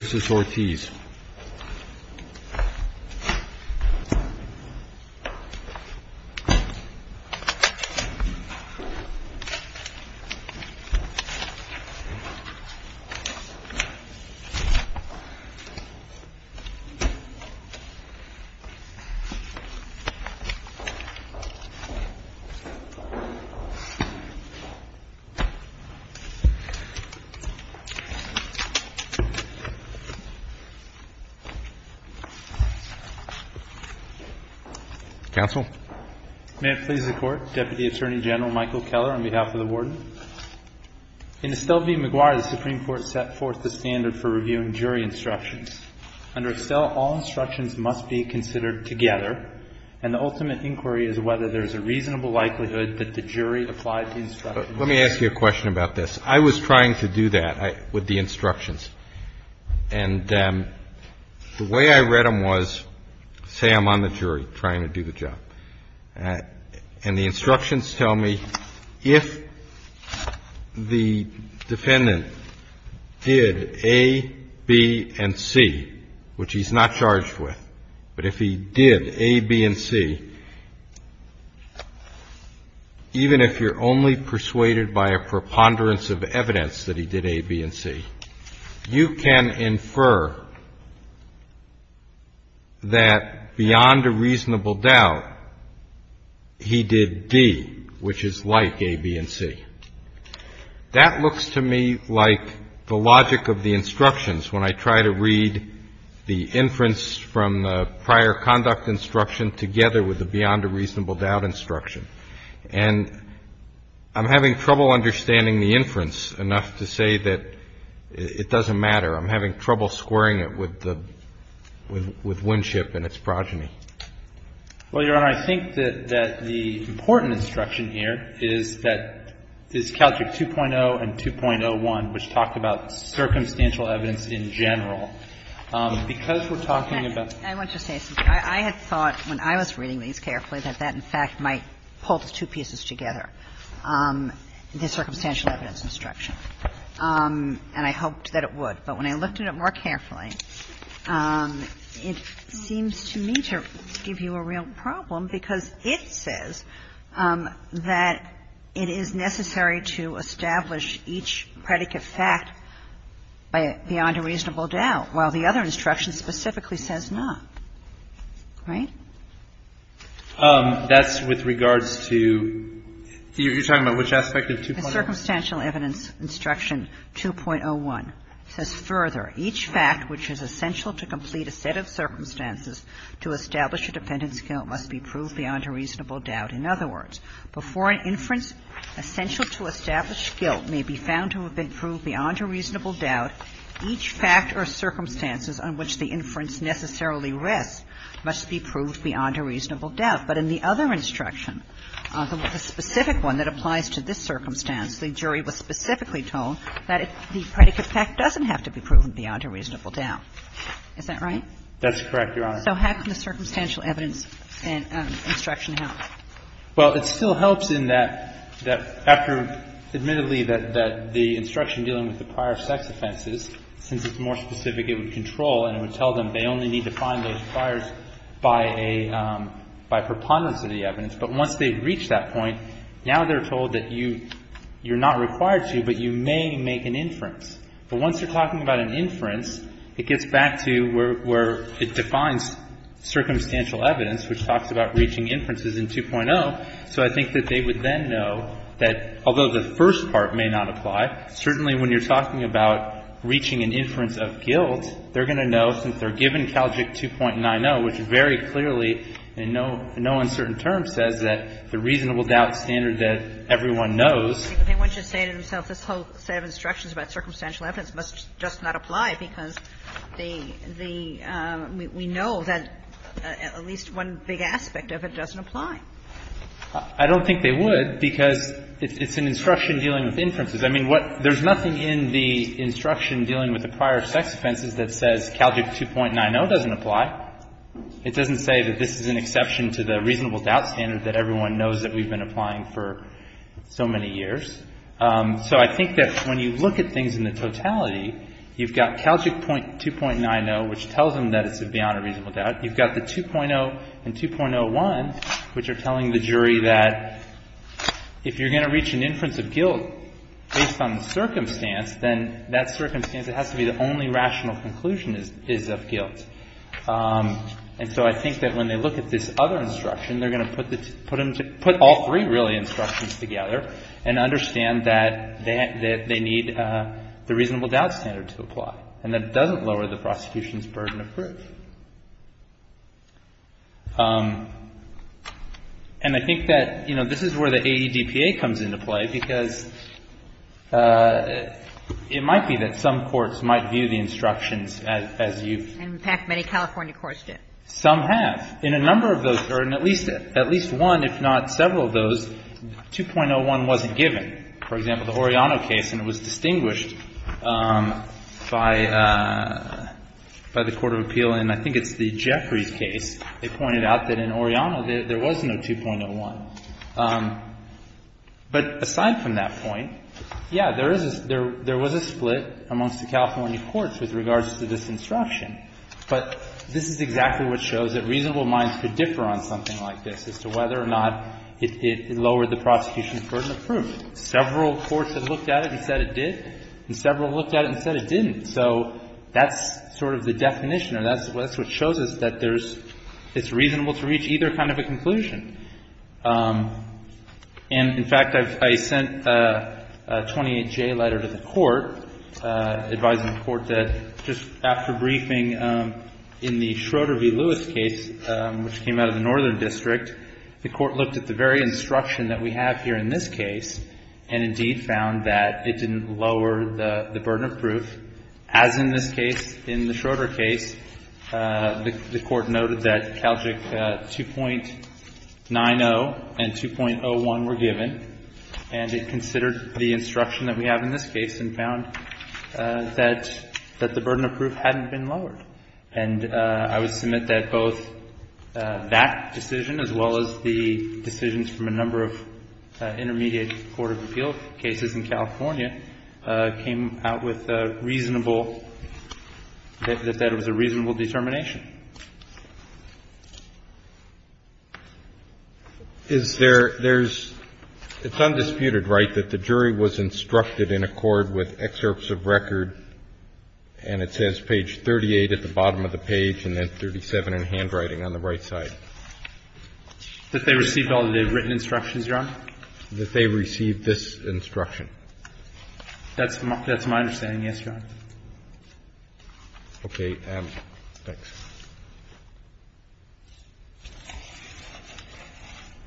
This is Ortiz. Counsel? May it please the Court, Deputy Attorney General Michael Keller on behalf of the warden. In Estelle v. McGuire, the Supreme Court set forth the standard for reviewing jury instructions. Under Estelle, all instructions must be considered together, and the ultimate inquiry is whether there is a reasonable likelihood that the jury applied the instructions. Let me ask you a question about this. I was trying to do that with the instructions, and the way I read them was, say I'm on the jury trying to do the job. And the instructions tell me if the defendant did A, B, and C, which he's not charged with, but if he did A, B, and C, even if you're only persuaded by a preponderance of evidence that he did A, B, and C, you can infer that beyond a reasonable doubt, he did D, which is like A, B, and C. That looks to me like the logic of the instructions when I try to read the inference from the prior conduct instruction together with the beyond a reasonable doubt instruction. And I'm having trouble understanding the inference enough to say that it doesn't matter. I'm having trouble squaring it with Winship and its progeny. Well, Your Honor, I think that the important instruction here is that this Caltrick 2.0 and 2.01, which talk about circumstantial evidence in general, because we're talking about the circumstances. I want to say something. I had thought when I was reading these carefully that that, in fact, might pull the two pieces together, the circumstantial evidence instruction, and I hoped that it would. But when I looked at it more carefully, it seems to me to give you a real problem, because it says that it is necessary to establish each predicate fact beyond a reasonable doubt, while the other instruction specifically says not. Right? That's with regards to you're talking about which aspect of 2.01? The circumstantial evidence instruction 2.01 says further, each fact which is essential to complete a set of circumstances to establish a defendant's guilt must be proved beyond a reasonable doubt. In other words, before an inference essential to establish guilt may be found to have been proved beyond a reasonable doubt, each fact or circumstances on which the inference necessarily rests must be proved beyond a reasonable doubt. But in the other instruction, the specific one that applies to this circumstance, the jury was specifically told that the predicate fact doesn't have to be proven beyond a reasonable doubt. Is that right? That's correct, Your Honor. So how can the circumstantial evidence instruction help? Well, it still helps in that after, admittedly, that the instruction dealing with the prior sex offenses, since it's more specific, it would control and it would tell them they only need to find those priors by preponderance of the evidence. But once they've reached that point, now they're told that you're not required to, but you may make an inference. But once you're talking about an inference, it gets back to where it defines circumstantial evidence, which talks about reaching inferences in 2.0. So I think that they would then know that although the first part may not apply, certainly when you're talking about reaching an inference of guilt, they're going to know, since they're given CALJIC 2.90, which very clearly in no uncertain terms says that the reasonable doubt standard that everyone knows. But they wouldn't just say to themselves, this whole set of instructions about circumstantial evidence must just not apply because the – we know that at least one big aspect of it doesn't apply. I don't think they would because it's an instruction dealing with inferences. I mean, what – there's nothing in the instruction dealing with the prior sex offenses that says CALJIC 2.90 doesn't apply. It doesn't say that this is an exception to the reasonable doubt standard that everyone knows that we've been applying for so many years. So I think that when you look at things in the totality, you've got CALJIC 2.90, which tells them that it's beyond a reasonable doubt. You've got the 2.0 and 2.01, which are telling the jury that if you're going to reach an inference of guilt based on the circumstance, then that circumstance has to be the only rational conclusion is of guilt. And so I think that when they look at this other instruction, they're going to put the – put all three, really, instructions together and understand that they need the reasonable doubt standard to apply and that it doesn't lower the prosecution's burden of proof. And I think that this is where the AEDPA comes into play because it might be that some courts might view the instructions as you've… And in fact, many California courts do. Some have. In a number of those, or in at least one, if not several of those, 2.01 wasn't given. For example, the Oriano case, and it was distinguished by the court of appeal and I think it's the Jeffries case, they pointed out that in Oriano there was no 2.01. But aside from that point, yeah, there is a – there was a split amongst the California courts with regards to this instruction. But this is exactly what shows that reasonable minds could differ on something like this as to whether or not it lowered the prosecution's burden of proof. Several courts have looked at it and said it did, and several looked at it and said it didn't. So that's sort of the definition, or that's what shows us that there's – it's reasonable to reach either kind of a conclusion. And in fact, I sent a 28-J letter to the court advising the court that just after briefing in the Schroeder v. Lewis case, which came out of the Northern District, the court looked at the very instruction that we have here in this case and indeed found that it didn't lower the burden of proof. As in this case, in the Schroeder case, the court noted that Calgic 2.90 and 2.01 were given, and it considered the instruction that we have in this case and found that the burden of proof hadn't been lowered. And I would submit that both that decision as well as the decisions from a number of intermediate court of appeal cases in California came out with a reasonable – that that was a reasonable determination. Is there – there's – it's undisputed, right, that the jury was instructed in accord with excerpts of record, and it says page 38 at the bottom of the page and then 37 in handwriting on the right side? That they received all the written instructions, Your Honor? That they received this instruction. That's my understanding, yes, Your Honor. Okay. Thanks.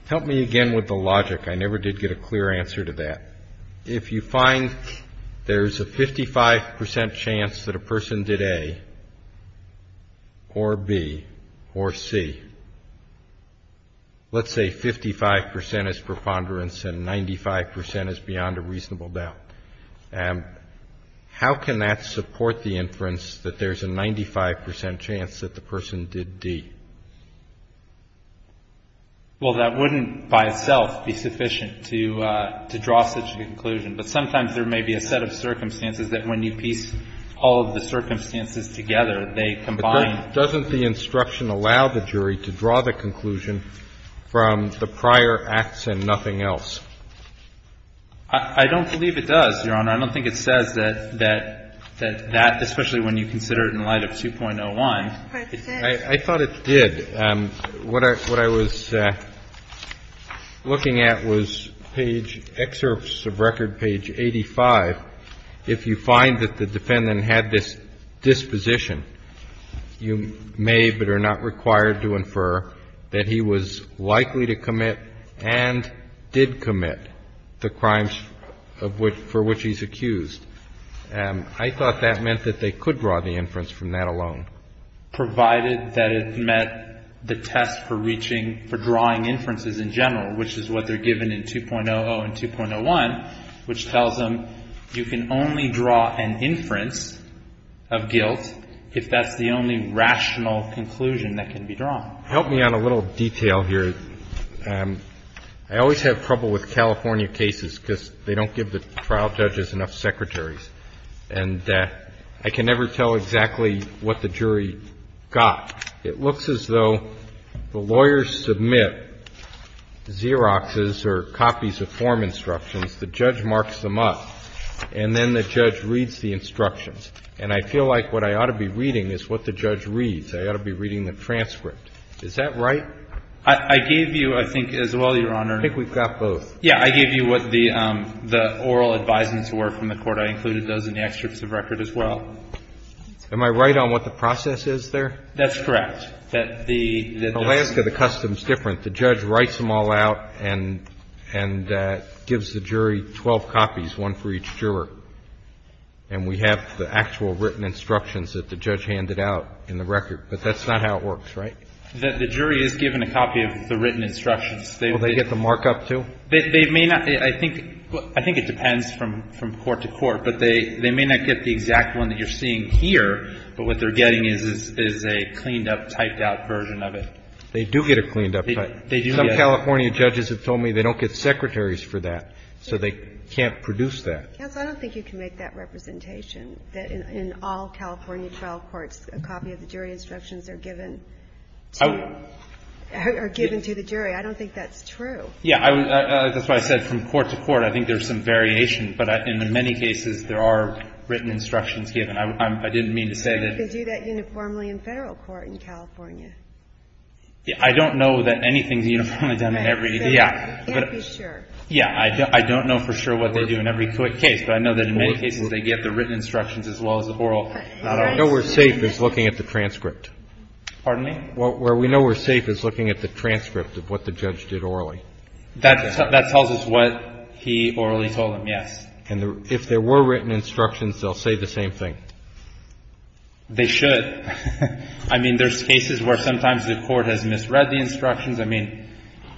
Help me again with the logic. I never did get a clear answer to that. If you find there's a 55 percent chance that a person did A or B or C, let's say 55 percent is preponderance and 95 percent is beyond a reasonable doubt, how can that support the inference that there's a 95 percent chance that the person did D? Well, that wouldn't by itself be sufficient to draw such a conclusion. But sometimes there may be a set of circumstances that when you piece all of the circumstances together, they combine. But doesn't the instruction allow the jury to draw the conclusion from the prior acts and nothing else? I don't believe it does, Your Honor. I don't think it says that that, especially when you consider it in light of 2.01. I thought it did. What I was looking at was page, excerpts of record page 85. If you find that the defendant had this disposition, you may but are not required to infer that he was likely to commit and did commit the crimes for which he's accused. I thought that meant that they could draw the inference from that alone. Provided that it met the test for reaching, for drawing inferences in general, which is what they're given in 2.00 and 2.01, which tells them you can only draw an inference of guilt if that's the only rational conclusion that can be drawn. Help me on a little detail here. I always have trouble with California cases because they don't give the trial judges enough secretaries. And I can never tell exactly what the jury got. It looks as though the lawyers submit Xeroxes or copies of form instructions. The judge marks them up, and then the judge reads the instructions. And I feel like what I ought to be reading is what the judge reads. I ought to be reading the transcript. Is that right? I gave you, I think, as well, Your Honor. I think we've got both. Yeah, I gave you what the oral advisements were from the court. I included those in the extracts of record as well. Am I right on what the process is there? That's correct. The Alaska, the custom's different. The judge writes them all out and gives the jury 12 copies, one for each juror. And we have the actual written instructions that the judge handed out in the record. But that's not how it works, right? The jury is given a copy of the written instructions. Will they get the markup, too? They may not. I think it depends from court to court. But they may not get the exact one that you're seeing here, but what they're getting is a cleaned-up, typed-out version of it. They do get a cleaned-up type. They do get it. Some California judges have told me they don't get secretaries for that, so they can't produce that. Counsel, I don't think you can make that representation, that in all California trial courts, a copy of the jury instructions are given to the jury. I don't think that's true. Yeah. That's why I said from court to court. I think there's some variation. But in many cases, there are written instructions given. I didn't mean to say that. They do that uniformly in Federal court in California. Yeah. I don't know that anything's uniformly done in every case. Right. So you can't be sure. Yeah. I don't know for sure what they do in every case, but I know that in many cases they get the written instructions as well as the oral. Right. Where we're safe is looking at the transcript. Pardon me? Where we know we're safe is looking at the transcript of what the judge did orally. That tells us what he orally told them, yes. And if there were written instructions, they'll say the same thing. They should. I mean, there's cases where sometimes the court has misread the instructions. I mean,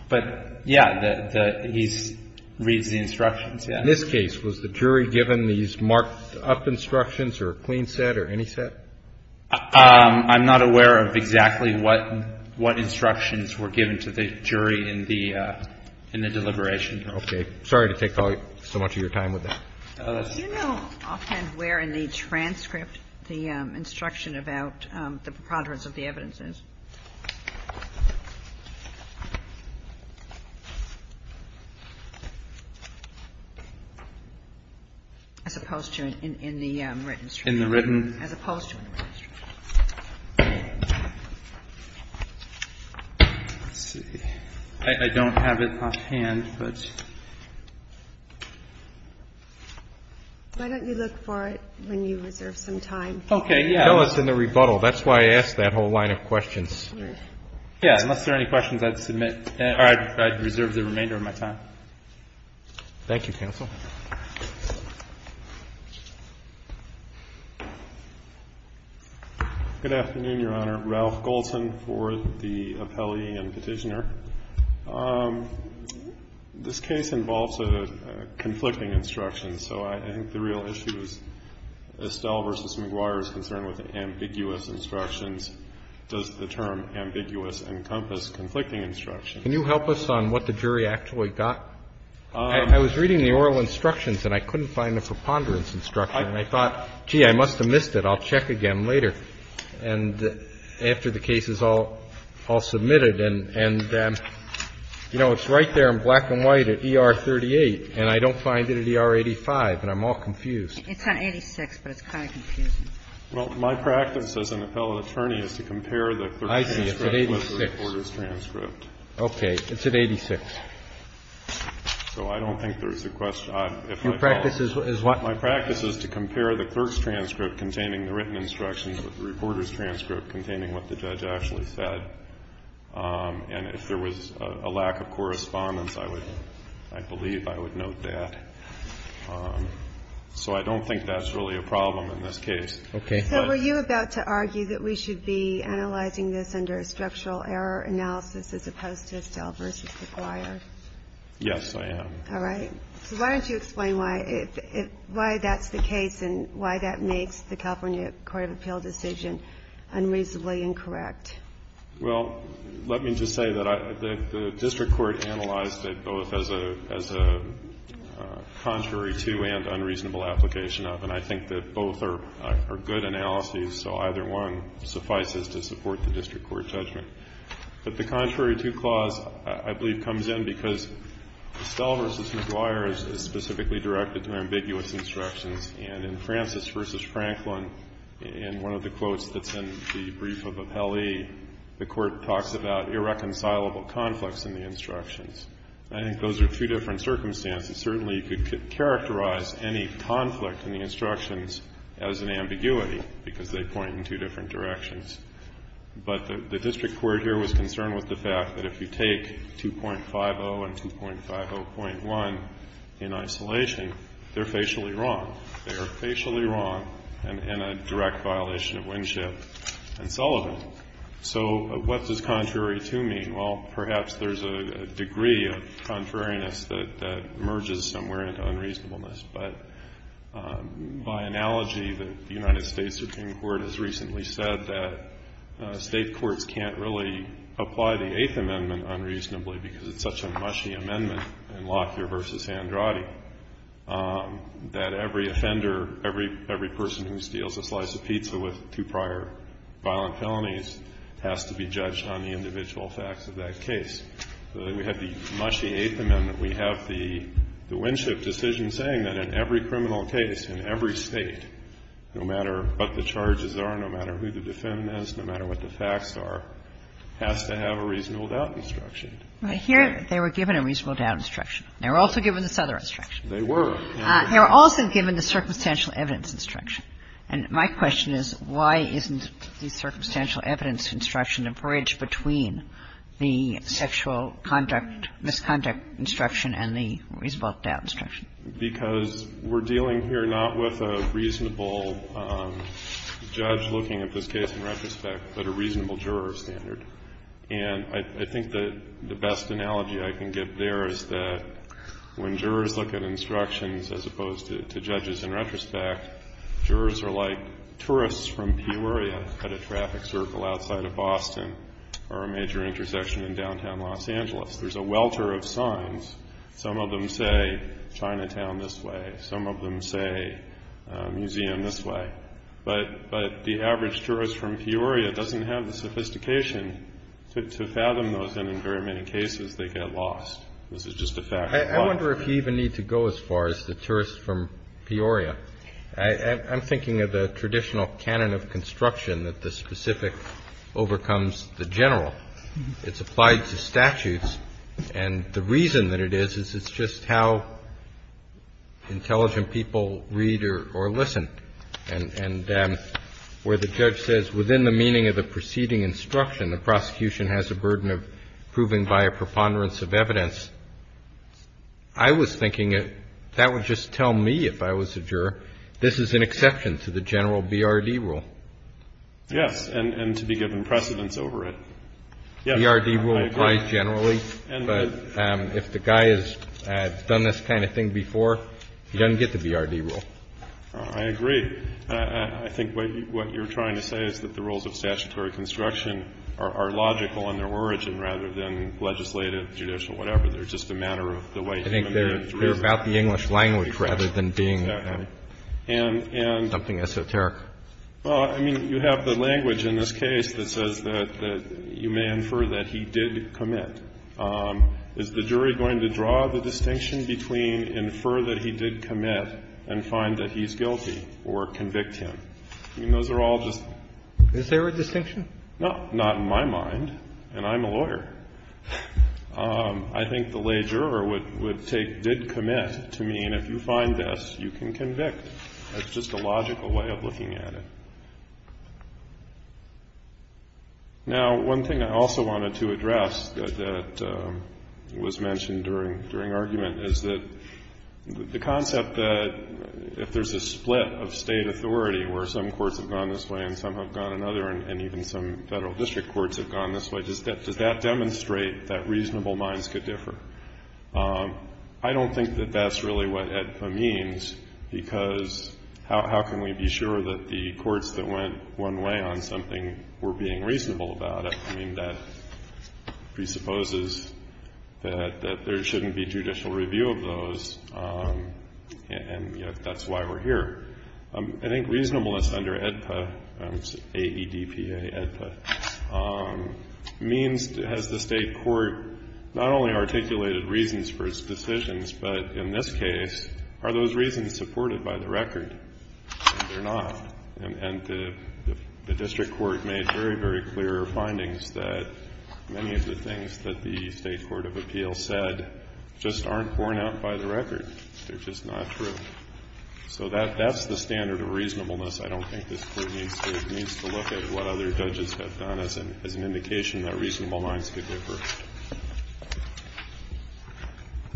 but, yeah, he reads the instructions, yeah. In this case, was the jury given these marked-up instructions or a clean set or any set? I'm not aware of exactly what instructions were given to the jury in the deliberation. Okay. Sorry to take so much of your time with that. Do you know offhand where in the transcript the instruction about the preponderance of the evidence is? As opposed to in the written? In the written. As opposed to in the written. Let's see. I don't have it offhand, but. Why don't you look for it when you reserve some time? Okay, yeah. No, it's in the rebuttal. That's why I asked that whole line of questions. Yeah, unless there are any questions, I'd submit or I'd reserve the remainder of my time. Thank you, counsel. Good afternoon, Your Honor. Ralph Goldson for the appellee and Petitioner. This case involves a conflicting instruction, so I think the real issue is Estelle v. McGuire is concerned with ambiguous instructions. Does the term ambiguous encompass conflicting instructions? Can you help us on what the jury actually got? I was reading the oral instructions and I couldn't find the preponderance instruction, and I thought, gee, I must have missed it. I'll check again later. And after the case is all submitted and, you know, it's right there in black and white at ER 38, and I don't find it at ER 85, and I'm all confused. It's on 86, but it's kind of confusing. Well, my practice as an appellate attorney is to compare the transcript with the reporter's transcript. I see. It's at 86. So I don't think there's a question. Your practice is what? My practice is to compare the clerk's transcript containing the written instructions with the reporter's transcript containing what the judge actually said. And if there was a lack of correspondence, I would – I believe I would note that. So I don't think that's really a problem in this case. Okay. So were you about to argue that we should be analyzing this under a structural error analysis as opposed to Estelle v. McGuire? Yes, I am. All right. So why don't you explain why that's the case and why that makes the California Court of Appeal decision unreasonably incorrect? Well, let me just say that the district court analyzed it both as a contrary to and unreasonable application of. And I think that both are good analyses, so either one suffices to support the district court judgment. But the contrary to clause, I believe, comes in because Estelle v. McGuire is specifically directed to ambiguous instructions. And in Francis v. Franklin, in one of the quotes that's in the brief of appellee, the court talks about irreconcilable conflicts in the instructions. I think those are two different circumstances. Certainly you could characterize any conflict in the instructions as an ambiguity because they point in two different directions. But the district court here was concerned with the fact that if you take 2.50 and 2.50.1 in isolation, they're facially wrong. They are facially wrong and a direct violation of Winship and Sullivan. So what does contrary to mean? Well, perhaps there's a degree of contrariness that merges somewhere into unreasonableness. But by analogy, the United States Supreme Court has recently said that State courts can't really apply the Eighth Amendment unreasonably because it's such a mushy amendment in Lockyer v. Andrade that every offender, every person who steals a slice of pizza with two prior violent felonies has to be judged on the individual facts of that case. And we have the Winship decision saying that in every criminal case in every State, no matter what the charges are, no matter who the defendant is, no matter what the facts are, has to have a reasonable doubt instruction. Kagan. They were given a reasonable doubt instruction. They were also given this other instruction. They were. They were also given the circumstantial evidence instruction. And my question is, why isn't the circumstantial evidence instruction a bridge between the sexual conduct, misconduct instruction and the reasonable doubt instruction? Because we're dealing here not with a reasonable judge looking at this case in retrospect, but a reasonable juror standard. And I think the best analogy I can give there is that when jurors look at instructions as opposed to judges in retrospect, jurors are like tourists from Peoria at a traffic circle outside of Boston or a major intersection in downtown Los Angeles. There's a welter of signs. Some of them say Chinatown this way. Some of them say museum this way. But the average tourist from Peoria doesn't have the sophistication to fathom those, and in very many cases they get lost. This is just a fact of life. I wonder if you even need to go as far as the tourists from Peoria. I'm thinking of the traditional canon of construction that the specific overcomes the general. It's applied to statutes. And the reason that it is is it's just how intelligent people read or listen. And where the judge says within the meaning of the preceding instruction, the prosecution has a burden of proving by a preponderance of evidence, I was thinking that would just tell me if I was a juror this is an exception to the general BRD rule. Yes, and to be given precedence over it. Yes, I agree. BRD rule applies generally, but if the guy has done this kind of thing before, he doesn't get the BRD rule. I agree. I think what you're trying to say is that the rules of statutory construction are logical in their origin rather than legislative, judicial, whatever. They're just a matter of the way human beings are treated. I think they're about the English language rather than being something esoteric. Well, I mean, you have the language in this case that says that you may infer that he did commit. Is the jury going to draw the distinction between infer that he did commit and find that he's guilty or convict him? I mean, those are all just. Is there a distinction? No, not in my mind, and I'm a lawyer. I think the lay juror would take did commit to mean if you find this, you can convict. That's just a logical way of looking at it. Now, one thing I also wanted to address that was mentioned during argument is that the concept that if there's a split of state authority where some courts have gone this way and some have gone another and even some federal district courts have gone this way, does that demonstrate that reasonable minds could differ? I don't think that that's really what it means because how can we be sure that the courts that went one way on something were being reasonable about it? I mean, that presupposes that there shouldn't be judicial review of those, and yet that's why we're here. I think reasonableness under AEDPA means has the state court not only articulated reasons for its decisions, but in this case, are those reasons supported by the record? They're not. And the district court made very, very clear findings that many of the things that the state court of appeal said just aren't borne out by the record. They're just not true. So that's the standard of reasonableness. I don't think this Court needs to look at what other judges have done as an indication that reasonable minds could differ.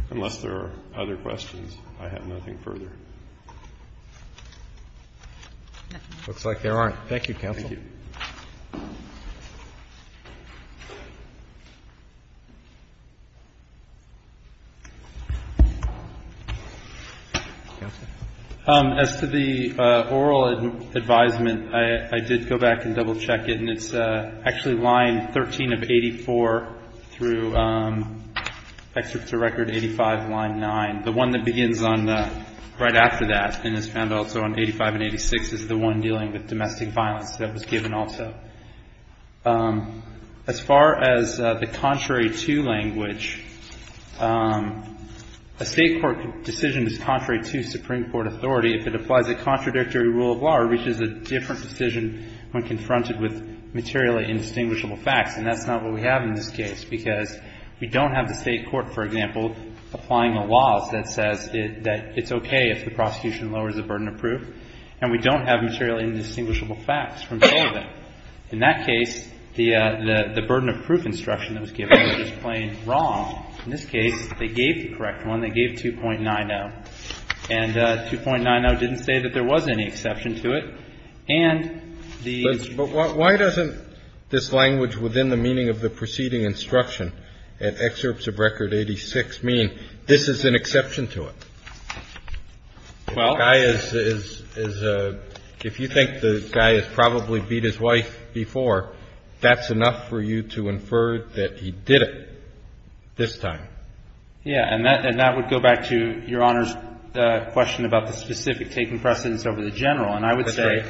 Unless there are other questions, I have nothing further. Looks like there aren't. Thank you, counsel. As to the oral advisement, I did go back and double-check it, and it's actually line 13 of 84 through Excerpt to Record 85, line 9. The one that begins right after that and is found also in 85 and 86 is the one dealing with domestic violence that was given also. As far as the contrary to language, a state court decision is contrary to Supreme Court authority if it applies a contradictory rule of law or reaches a different decision when confronted with materially indistinguishable facts. And that's not what we have in this case, because we don't have the state court, for example, applying the laws that says that it's okay if the prosecution lowers the burden of proof, and we don't have materially indistinguishable facts from all of it. In that case, the burden of proof instruction that was given was just plain wrong. In this case, they gave the correct one. They gave 2.90. And 2.90 didn't say that there was any exception to it. And the ---- But why doesn't this language within the meaning of the preceding instruction at Excerpts of Record 86 mean this is an exception to it? Well ---- If you think the guy has probably beat his wife before, that's enough for you to infer that he did it this time. Yes. And that would go back to Your Honor's question about the specific taking precedence over the general. And I would say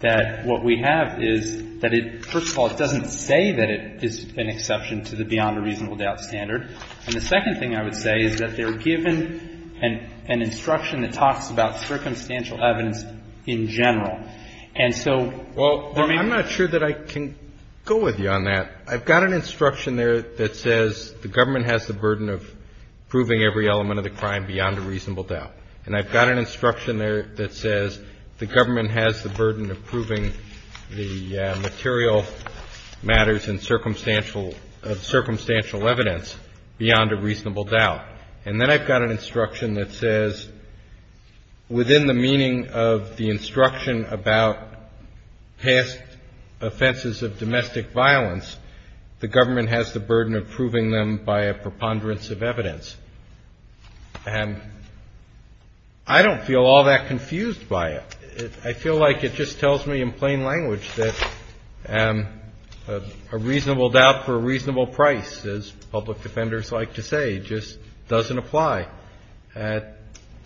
that what we have is that it, first of all, it doesn't say that it is an exception to the beyond a reasonable doubt standard. And the second thing I would say is that they're given an instruction that talks about circumstantial evidence in general. And so there may be ---- Well, I'm not sure that I can go with you on that. I've got an instruction there that says the government has the burden of proving every element of the crime beyond a reasonable doubt. And I've got an instruction there that says the government has the burden of proving the material matters and circumstantial ---- circumstantial evidence beyond a reasonable doubt. And then I've got an instruction that says within the meaning of the instruction about past offenses of domestic violence, the government has the burden of proving them by a preponderance of evidence. And I don't feel all that confused by it. I feel like it just tells me in plain language that a reasonable doubt for a reasonable price, as public defenders like to say, just doesn't apply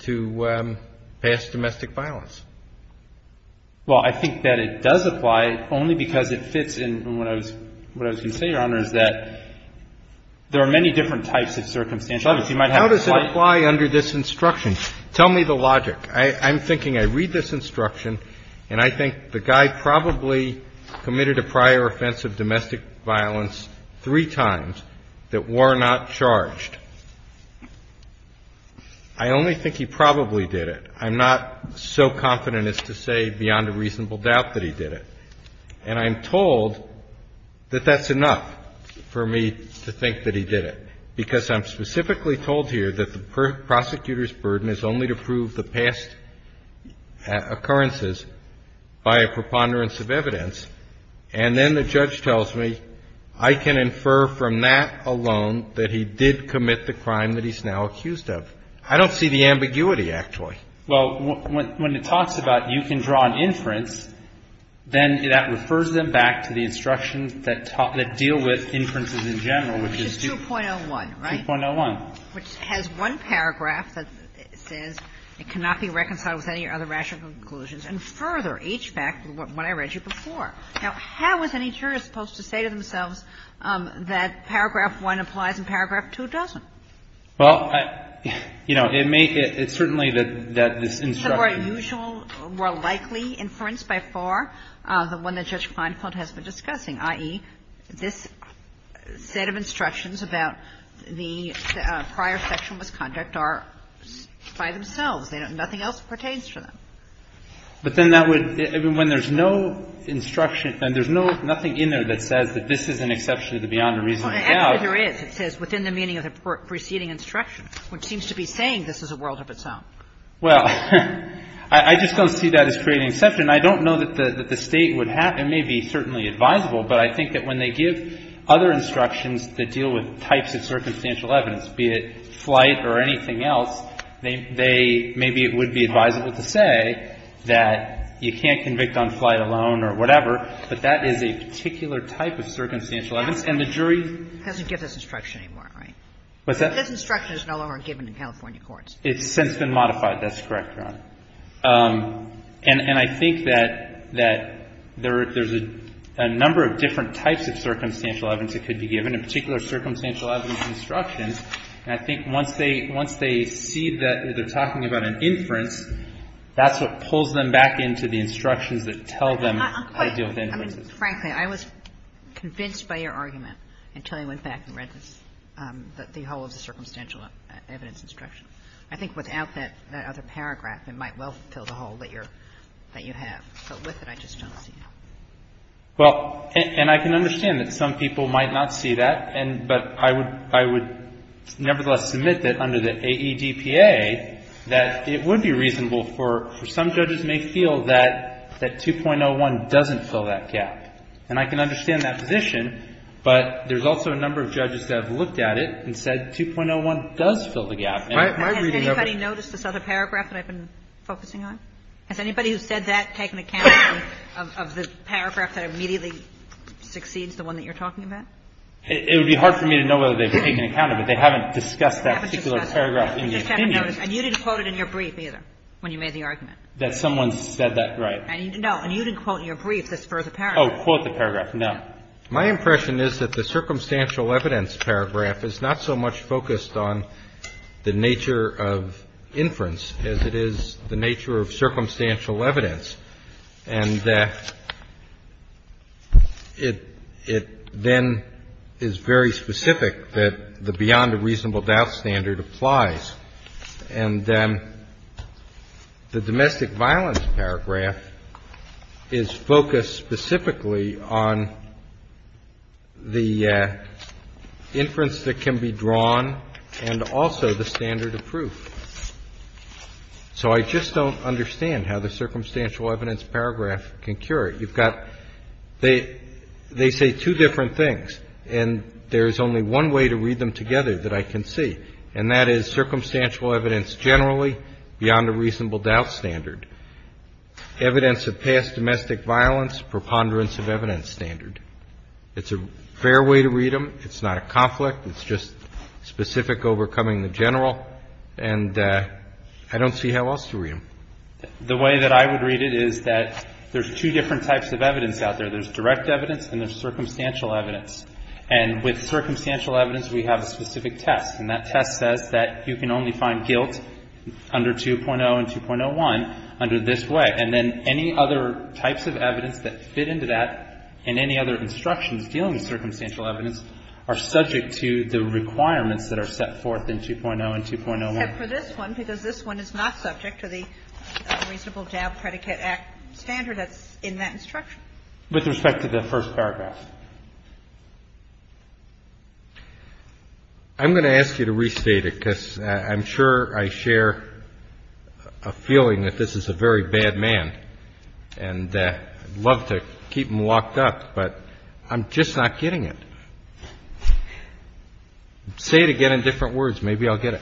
to past domestic violence. Well, I think that it does apply only because it fits in what I was going to say, Your Honor, is that there are many different types of circumstantial evidence. You might have to fight ---- How does it apply under this instruction? Tell me the logic. I'm thinking I read this instruction, and I think the guy probably committed a prior offense of domestic violence three times that were not charged. I only think he probably did it. I'm not so confident as to say beyond a reasonable doubt that he did it. And I'm told that that's enough for me to think that he did it, because I'm specifically told here that the prosecutor's burden is only to prove the past occurrences by a preponderance of evidence. And then the judge tells me I can infer from that alone that he did commit the crime that he's now accused of. Well, when it talks about you can draw an inference, then that refers them back to the instructions that deal with inferences in general, which is 2.01, right? 2.01. Which has one paragraph that says it cannot be reconciled with any other rational conclusions, and further, HBAC, what I read you before. Now, how is any juror supposed to say to themselves that paragraph 1 applies and paragraph 2 doesn't? Well, you know, it may be, it's certainly that this instruction. It's a more usual, more likely inference by far than one that Judge Kleinfeld has been discussing, i.e., this set of instructions about the prior sexual misconduct are by themselves. They don't, nothing else pertains to them. But then that would, when there's no instruction, and there's no, nothing in there I doubt. And actually there is. It says, within the meaning of the preceding instruction, which seems to be saying this is a world of its own. Well, I just don't see that as creating exception. I don't know that the State would have, it may be certainly advisable, but I think that when they give other instructions that deal with types of circumstantial evidence, be it flight or anything else, they, maybe it would be advisable to say that you can't convict on flight alone or whatever, but that is a particular type of circumstantial evidence. And the jury Doesn't give this instruction anymore, right? What's that? This instruction is no longer given in California courts. It's since been modified. That's correct, Your Honor. And I think that there's a number of different types of circumstantial evidence that could be given, in particular, circumstantial evidence instructions. And I think once they see that they're talking about an inference, that's what pulls them back into the instructions that tell them how to deal with inferences. I mean, frankly, I was convinced by your argument until I went back and read the whole of the circumstantial evidence instruction. I think without that other paragraph, it might well fill the hole that you have. But with it, I just don't see it. Well, and I can understand that some people might not see that, but I would nevertheless submit that under the AEDPA, that it would be reasonable for some judges may feel that 2.01 doesn't fill that gap. And I can understand that position, but there's also a number of judges that have looked at it and said 2.01 does fill the gap. Has anybody noticed this other paragraph that I've been focusing on? Has anybody who said that taken account of the paragraph that immediately succeeds the one that you're talking about? It would be hard for me to know whether they've taken account of it. They haven't discussed that particular paragraph in the opinion. That someone said that, right. No. And you didn't quote in your brief this further paragraph. Oh, quote the paragraph. No. My impression is that the circumstantial evidence paragraph is not so much focused on the nature of inference as it is the nature of circumstantial evidence. And it then is very specific that the beyond a reasonable doubt standard applies. And the domestic violence paragraph is focused specifically on the inference that can be drawn and also the standard of proof. So I just don't understand how the circumstantial evidence paragraph can cure it. You've got, they say two different things. And there's only one way to read them together that I can see. And that is circumstantial evidence generally beyond a reasonable doubt standard. Evidence of past domestic violence, preponderance of evidence standard. It's a fair way to read them. It's not a conflict. It's just specific overcoming the general. And I don't see how else to read them. The way that I would read it is that there's two different types of evidence out there. There's direct evidence and there's circumstantial evidence. And with circumstantial evidence, we have a specific test. And that test says that you can only find guilt under 2.0 and 2.01 under this way. And then any other types of evidence that fit into that and any other instructions dealing with circumstantial evidence are subject to the requirements that are set forth in 2.0 and 2.01. And for this one, because this one is not subject to the reasonable doubt predicate act standard that's in that instruction. With respect to the first paragraph. I'm going to ask you to restate it because I'm sure I share a feeling that this is a very bad man. And I'd love to keep him locked up, but I'm just not getting it. Say it again in different words. Maybe I'll get it.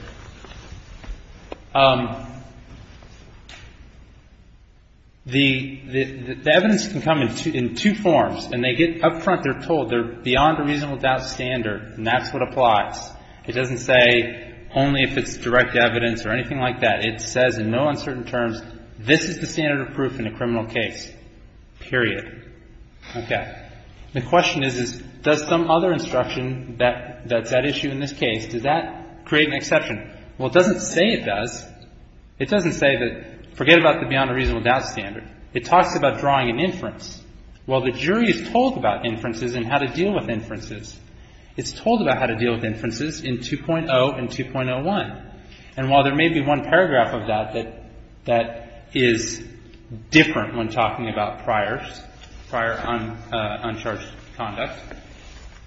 The evidence can come in two forms. And they get up front, they're told they're beyond a reasonable doubt standard. And that's what applies. It doesn't say only if it's direct evidence or anything like that. It says in no uncertain terms, this is the standard of proof in a criminal case. Period. Okay. The question is, does some other instruction that's at issue in this case, does that create an exception? Well, it doesn't say it does. It doesn't say that, forget about the beyond a reasonable doubt standard. It talks about drawing an inference. Well, the jury is told about inferences and how to deal with inferences. It's told about how to deal with inferences in 2.0 and 2.01. And while there may be one paragraph of that that is different when talking about prior uncharged conduct,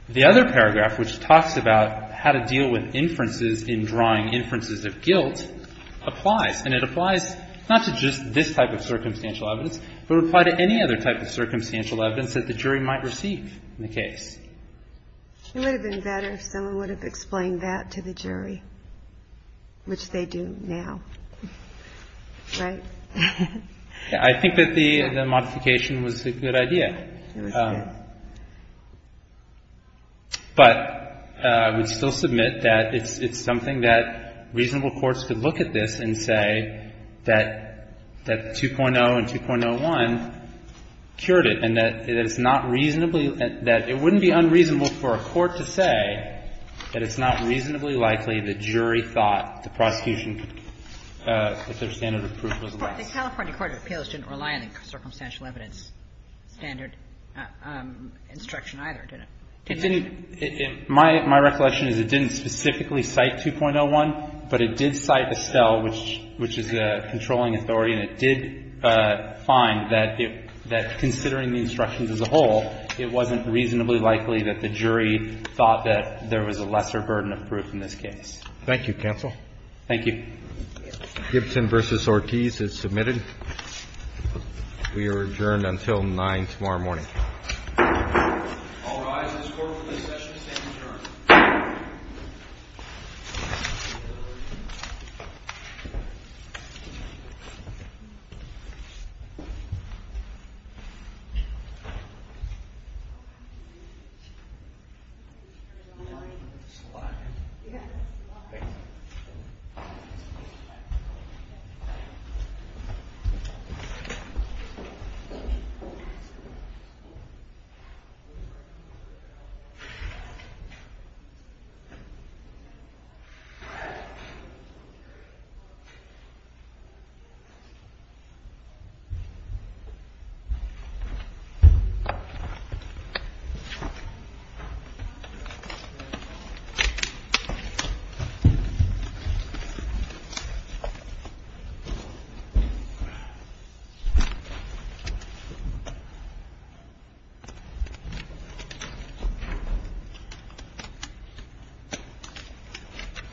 the other paragraph, which talks about how to deal with inferences in drawing inferences of guilt, applies. And it applies not to just this type of circumstantial evidence, but it would apply to any other type of circumstantial evidence that the jury might receive in the case. It would have been better if someone would have explained that to the jury, which they do now. Right? I think that the modification was a good idea. But I would still submit that it's something that reasonable courts could look at this and say that 2.0 and 2.01 cured it and that it is not reasonably, that it wouldn't be unreasonable for a court to say that it's not reasonably likely the jury thought the prosecution, that their standard of proof was less. But the California Court of Appeals didn't rely on the circumstantial evidence standard instruction either, did it? It didn't. My recollection is it didn't specifically cite 2.01, but it did cite Estelle, which is the controlling authority, and it did find that considering the instructions as a whole, it wasn't reasonably likely that the jury thought that there was a lesser burden of proof in this case. Thank you, counsel. Thank you. Gibson v. Ortiz is submitted. We are adjourned until 9 tomorrow morning. All rise. This court for this session is adjourned. Thank you. Thank you.